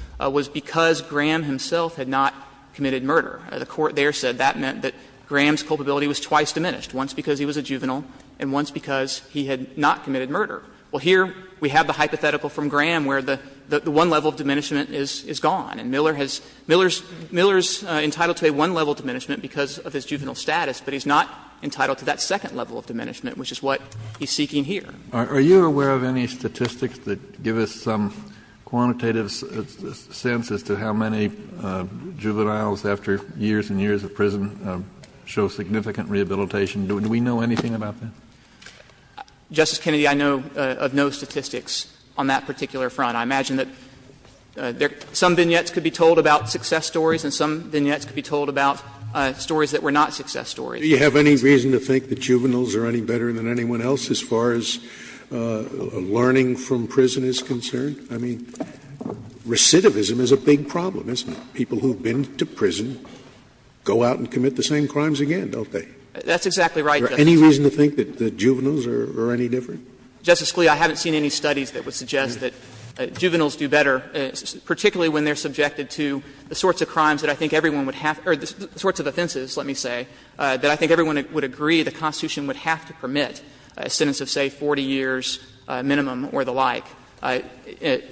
Court there said that meant that Graham's culpability was twice diminished, once because he was a juvenile and once because he had not committed murder. Well, here we have the hypothetical from Graham where the one level of diminishment is gone, and Miller has — Miller is entitled to a one-level diminishment because of his juvenile status, but he's not entitled to that second level of diminishment, which is what he's seeking here. Kennedy, are you aware of any statistics that give us some quantitative sense as to how many juveniles, after years and years of prison, show significant rehabilitation? Do we know anything about that? Justice Kennedy, I know of no statistics on that particular front. I imagine that some vignettes could be told about success stories and some vignettes could be told about stories that were not success stories. Do you have any reason to think that juveniles are any better than anyone else as far as learning from prison is concerned? I mean, recidivism is a big problem, isn't it? People who have been to prison go out and commit the same crimes again, don't they? That's exactly right, Justice Scalia. Is there any reason to think that juveniles are any different? Justice Scalia, I haven't seen any studies that would suggest that juveniles do better, particularly when they are subjected to the sorts of crimes that I think everyone would have — or the sorts of offenses, let me say, that I think everyone would agree the Constitution would have to permit, a sentence of, say, 40 years minimum or the like.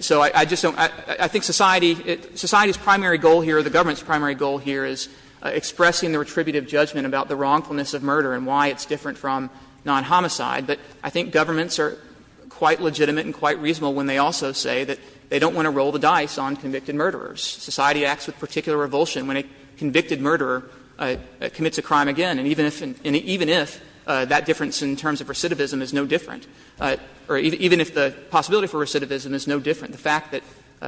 So I just don't — I think society — society's primary goal here or the government's primary goal here is expressing the retributive judgment about the wrongfulness of murder and why it's different from non-homicide. But I think governments are quite legitimate and quite reasonable when they also say that they don't want to roll the dice on convicted murderers. Society acts with particular revulsion when a convicted murderer commits a crime again, and even if that difference in terms of recidivism is no different, or even if the possibility for recidivism is no different, the fact that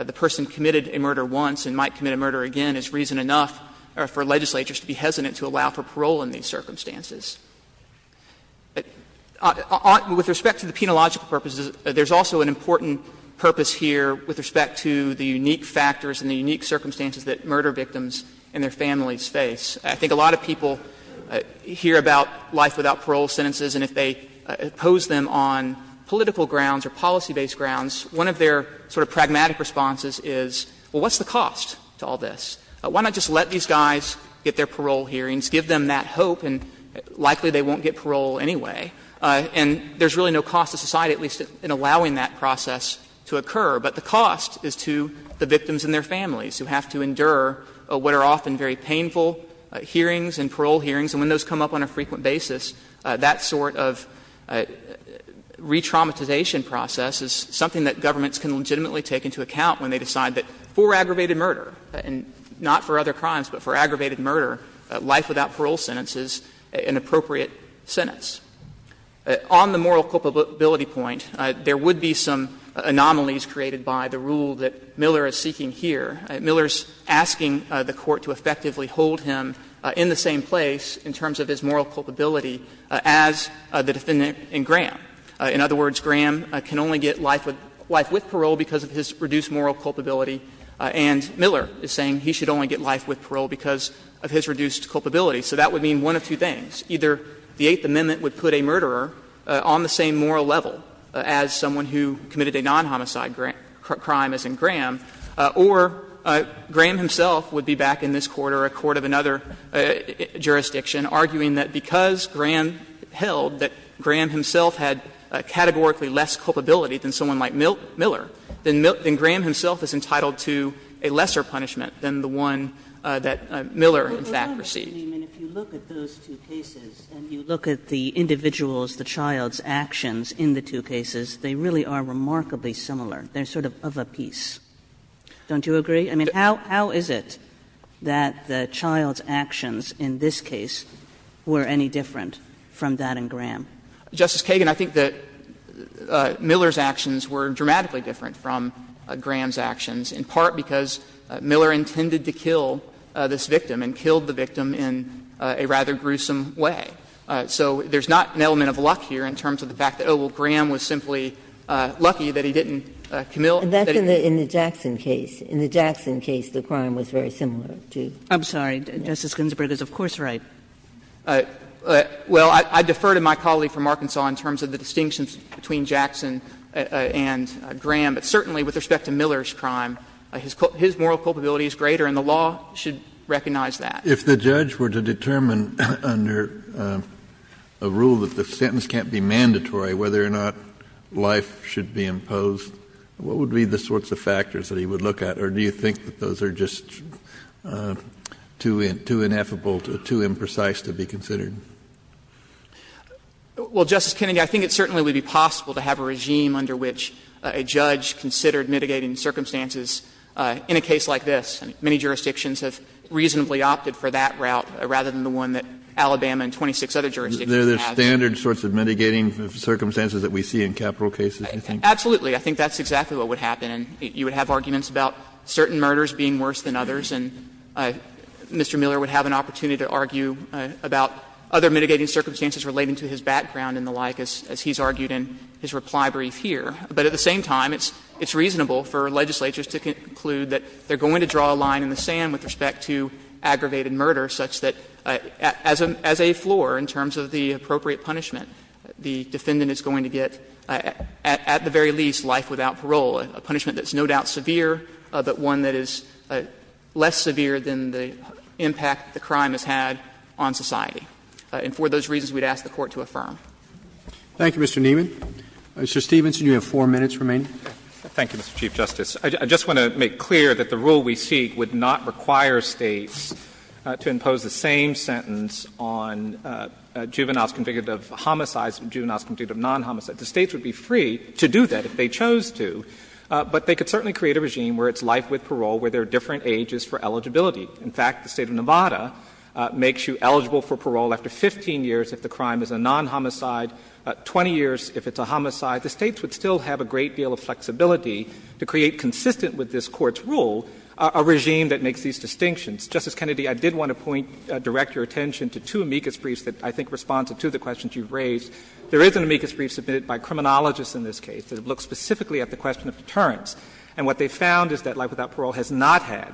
the person committed a murder once and might commit a murder again is reason enough for legislatures to be hesitant to allow for parole in these circumstances. With respect to the penological purposes, there's also an important purpose here with respect to the unique factors and the unique circumstances that murder victims and their families face. I think a lot of people hear about life without parole sentences, and if they pose them on political grounds or policy-based grounds, one of their sort of pragmatic responses is, well, what's the cost to all this? Why not just let these guys get their parole hearings, give them that hope, and likely they won't get parole anyway? And there's really no cost to society, at least in allowing that process to occur. But the cost is to the victims and their families, who have to endure what are often very painful hearings and parole hearings, and when those come up on a frequent basis, that sort of re-traumatization process is something that governments can legitimately take into account when they decide that for aggravated murder, and not for other crimes, but for aggravated murder, life without parole sentence is an appropriate sentence. On the moral culpability point, there would be some anomalies created by the rule that Miller is seeking here. Miller is asking the Court to effectively hold him in the same place in terms of his moral culpability as the defendant in Graham. In other words, Graham can only get life with parole because of his reduced moral culpability, and Miller is saying he should only get life with parole because of his reduced culpability. So that would mean one of two things. Either the Eighth Amendment would put a murderer on the same moral level as someone who committed a non-homicide crime, as in Graham, or Graham himself would be back in this Court or a court of another jurisdiction arguing that because Graham held that Graham himself had categorically less culpability than someone like Miller, then Graham himself is entitled to a lesser punishment than the one that Miller in fact received. Kaganen I mean, if you look at those two cases and you look at the individuals, the child's actions in the two cases, they really are remarkably similar. They're sort of, of a piece. Don't you agree? I mean, how is it that the child's actions in this case were any different from that in Graham? Kaganen Justice Kagan, I think that Miller's actions were dramatically different from Graham's actions, in part because Miller intended to kill this victim and killed the victim in a rather gruesome way. So there's not an element of luck here in terms of the fact that, oh, well, Graham was simply lucky that he didn't, Camille, that he didn't. Ginsburg And that's in the Jackson case. In the Jackson case, the crime was very similar, too. Kaganen I'm sorry. Justice Ginsburg is of course right. Well, I defer to my colleague from Arkansas in terms of the distinctions between Jackson and Graham. But certainly with respect to Miller's crime, his moral culpability is greater and the law should recognize that. Kennedy If the judge were to determine under a rule that the sentence can't be mandatory whether or not life should be imposed, what would be the sorts of factors that he would look at, or do you think that those are just too ineffable, too imprecise to be considered? Kaganen Well, Justice Kennedy, I think it certainly would be possible to have a regime under which a judge considered mitigating circumstances in a case like this. Many jurisdictions have reasonably opted for that route rather than the one that Alabama and 26 other jurisdictions have. Kennedy Are there standard sorts of mitigating circumstances that we see in capital cases, you think? Kaganen Absolutely. I think that's exactly what would happen. You would have arguments about certain murders being worse than others, and Mr. Miller would have an opportunity to argue about other mitigating circumstances relating to his background and the like, as he's argued in his reply brief here. But at the same time, it's reasonable for legislatures to conclude that they're going to draw a line in the sand with respect to aggravated murder such that as a floor in terms of the appropriate punishment, the defendant is going to get, at the very least, life without parole, a punishment that's no doubt severe, but one that is less severe than the impact the crime has had on society. And for those reasons, we'd ask the Court to affirm. Roberts. Thank you, Mr. Nieman. Mr. Stevenson, you have four minutes remaining. Stevenson Thank you, Mr. Chief Justice. I just want to make clear that the rule we seek would not require States to impose the same sentence on juveniles convicted of homicides and juveniles convicted of non-homicides. The States would be free to do that if they chose to, but they could certainly create a regime where it's life with parole, where there are different ages for eligibility. In fact, the State of Nevada makes you eligible for parole after 15 years if the crime is a non-homicide, 20 years if it's a homicide. The States would still have a great deal of flexibility to create, consistent with this Court's rule, a regime that makes these distinctions. Justice Kennedy, I did want to point, direct your attention to two amicus briefs that I think respond to two of the questions you've raised. There is an amicus brief submitted by criminologists in this case that looks specifically at the question of deterrence. And what they found is that life without parole has not had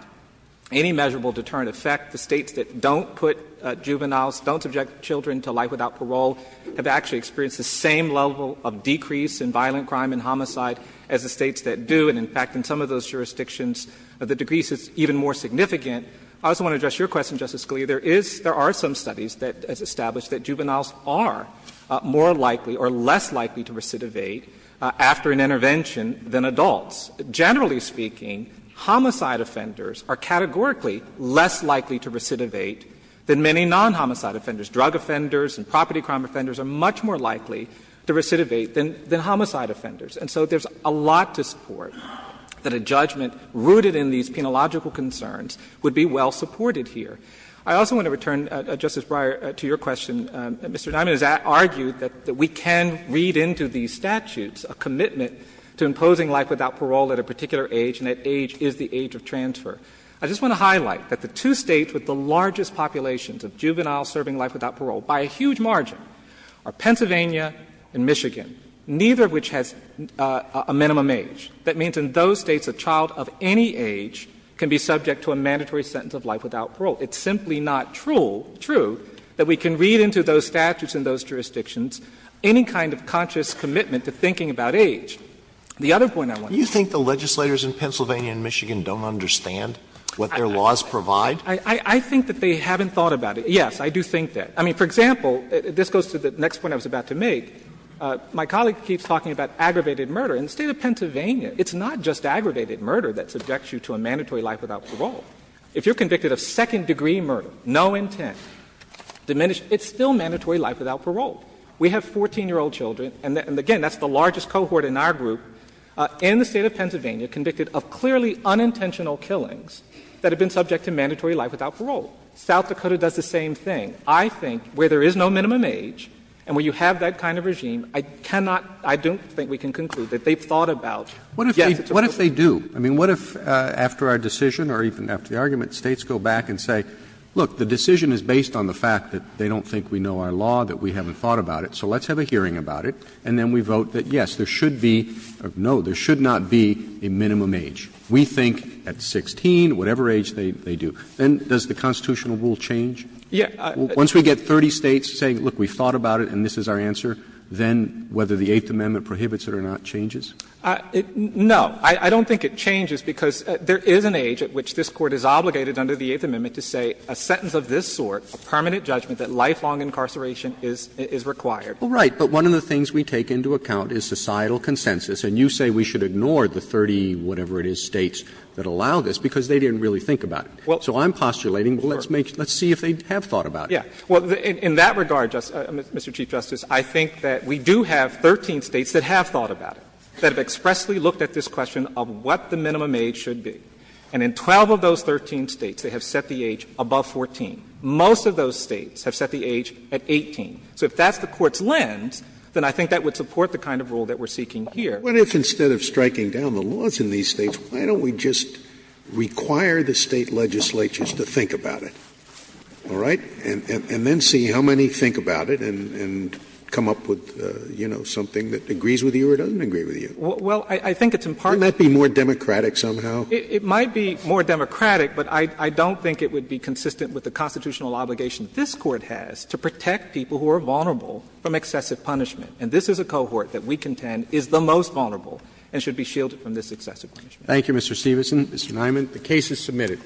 any measurable deterrent effect. The States that don't put juveniles, don't subject children to life without parole have actually experienced the same level of decrease in violent crime and homicide as the States that do. And, in fact, in some of those jurisdictions, the decrease is even more significant. I also want to address your question, Justice Scalia. There is, there are some studies that have established that juveniles are more likely or less likely to recidivate after an intervention than adults. Generally speaking, homicide offenders are categorically less likely to recidivate than many non-homicide offenders. Drug offenders and property crime offenders are much more likely to recidivate than homicide offenders. And so there's a lot to support that a judgment rooted in these penological concerns would be well supported here. I also want to return, Justice Breyer, to your question. Mr. Dymond has argued that we can read into these statutes a commitment to imposing life without parole at a particular age, and that age is the age of transfer. I just want to highlight that the two States with the largest populations of juveniles serving life without parole, by a huge margin, are Pennsylvania and Michigan, neither of which has a minimum age. That means in those States a child of any age can be subject to a mandatory sentence of life without parole. It's simply not true that we can read into those statutes and those jurisdictions any kind of conscious commitment to thinking about age. The other point I want to make is that Scaliar You think the legislators in Pennsylvania and Michigan don't understand what their laws provide? Dymond I think that they haven't thought about it. Yes, I do think that. I mean, for example, this goes to the next point I was about to make. My colleague keeps talking about aggravated murder. In the State of Pennsylvania, it's not just aggravated murder that subjects you to a mandatory life without parole. If you're convicted of second-degree murder, no intent, diminished, it's still mandatory life without parole. We have 14-year-old children, and again, that's the largest cohort in our group, in the State of Pennsylvania convicted of clearly unintentional killings that have been subject to mandatory life without parole. South Dakota does the same thing. I think where there is no minimum age and where you have that kind of regime, I cannot I don't think we can conclude that they've thought about Roberts What if they do? I mean, what if after our decision or even after the argument, States go back and say, look, the decision is based on the fact that they don't think we know our law, that we haven't thought about it, so let's have a hearing about it, and then we vote that, yes, there should be or no, there should not be a minimum age. We think at 16, whatever age they do. Then does the constitutional rule change? Once we get 30 States saying, look, we've thought about it and this is our answer, then whether the Eighth Amendment prohibits it or not changes? No. I don't think it changes, because there is an age at which this Court is obligated under the Eighth Amendment to say a sentence of this sort, a permanent judgment, that lifelong incarceration is required. Well, right, but one of the things we take into account is societal consensus. And you say we should ignore the 30 whatever-it-is States that allow this, because they didn't really think about it. So I'm postulating, well, let's make, let's see if they have thought about it. Yeah. Well, in that regard, Mr. Chief Justice, I think that we do have 13 States that have thought about it. That have expressly looked at this question of what the minimum age should be. And in 12 of those 13 States, they have set the age above 14. Most of those States have set the age at 18. So if that's the Court's lens, then I think that would support the kind of rule that we're seeking here. Scalia What if, instead of striking down the laws in these States, why don't we just require the State legislatures to think about it, all right, and then see how many think about it and come up with, you know, something that agrees with you or doesn't agree with you? Well, I think it's in part Couldn't that be more democratic somehow? It might be more democratic, but I don't think it would be consistent with the constitutional obligation that this Court has to protect people who are vulnerable from excessive punishment. And this is a cohort that we contend is the most vulnerable and should be shielded from this excessive punishment. Thank you, Mr. Stevenson. Mr. Niemann, the case is submitted.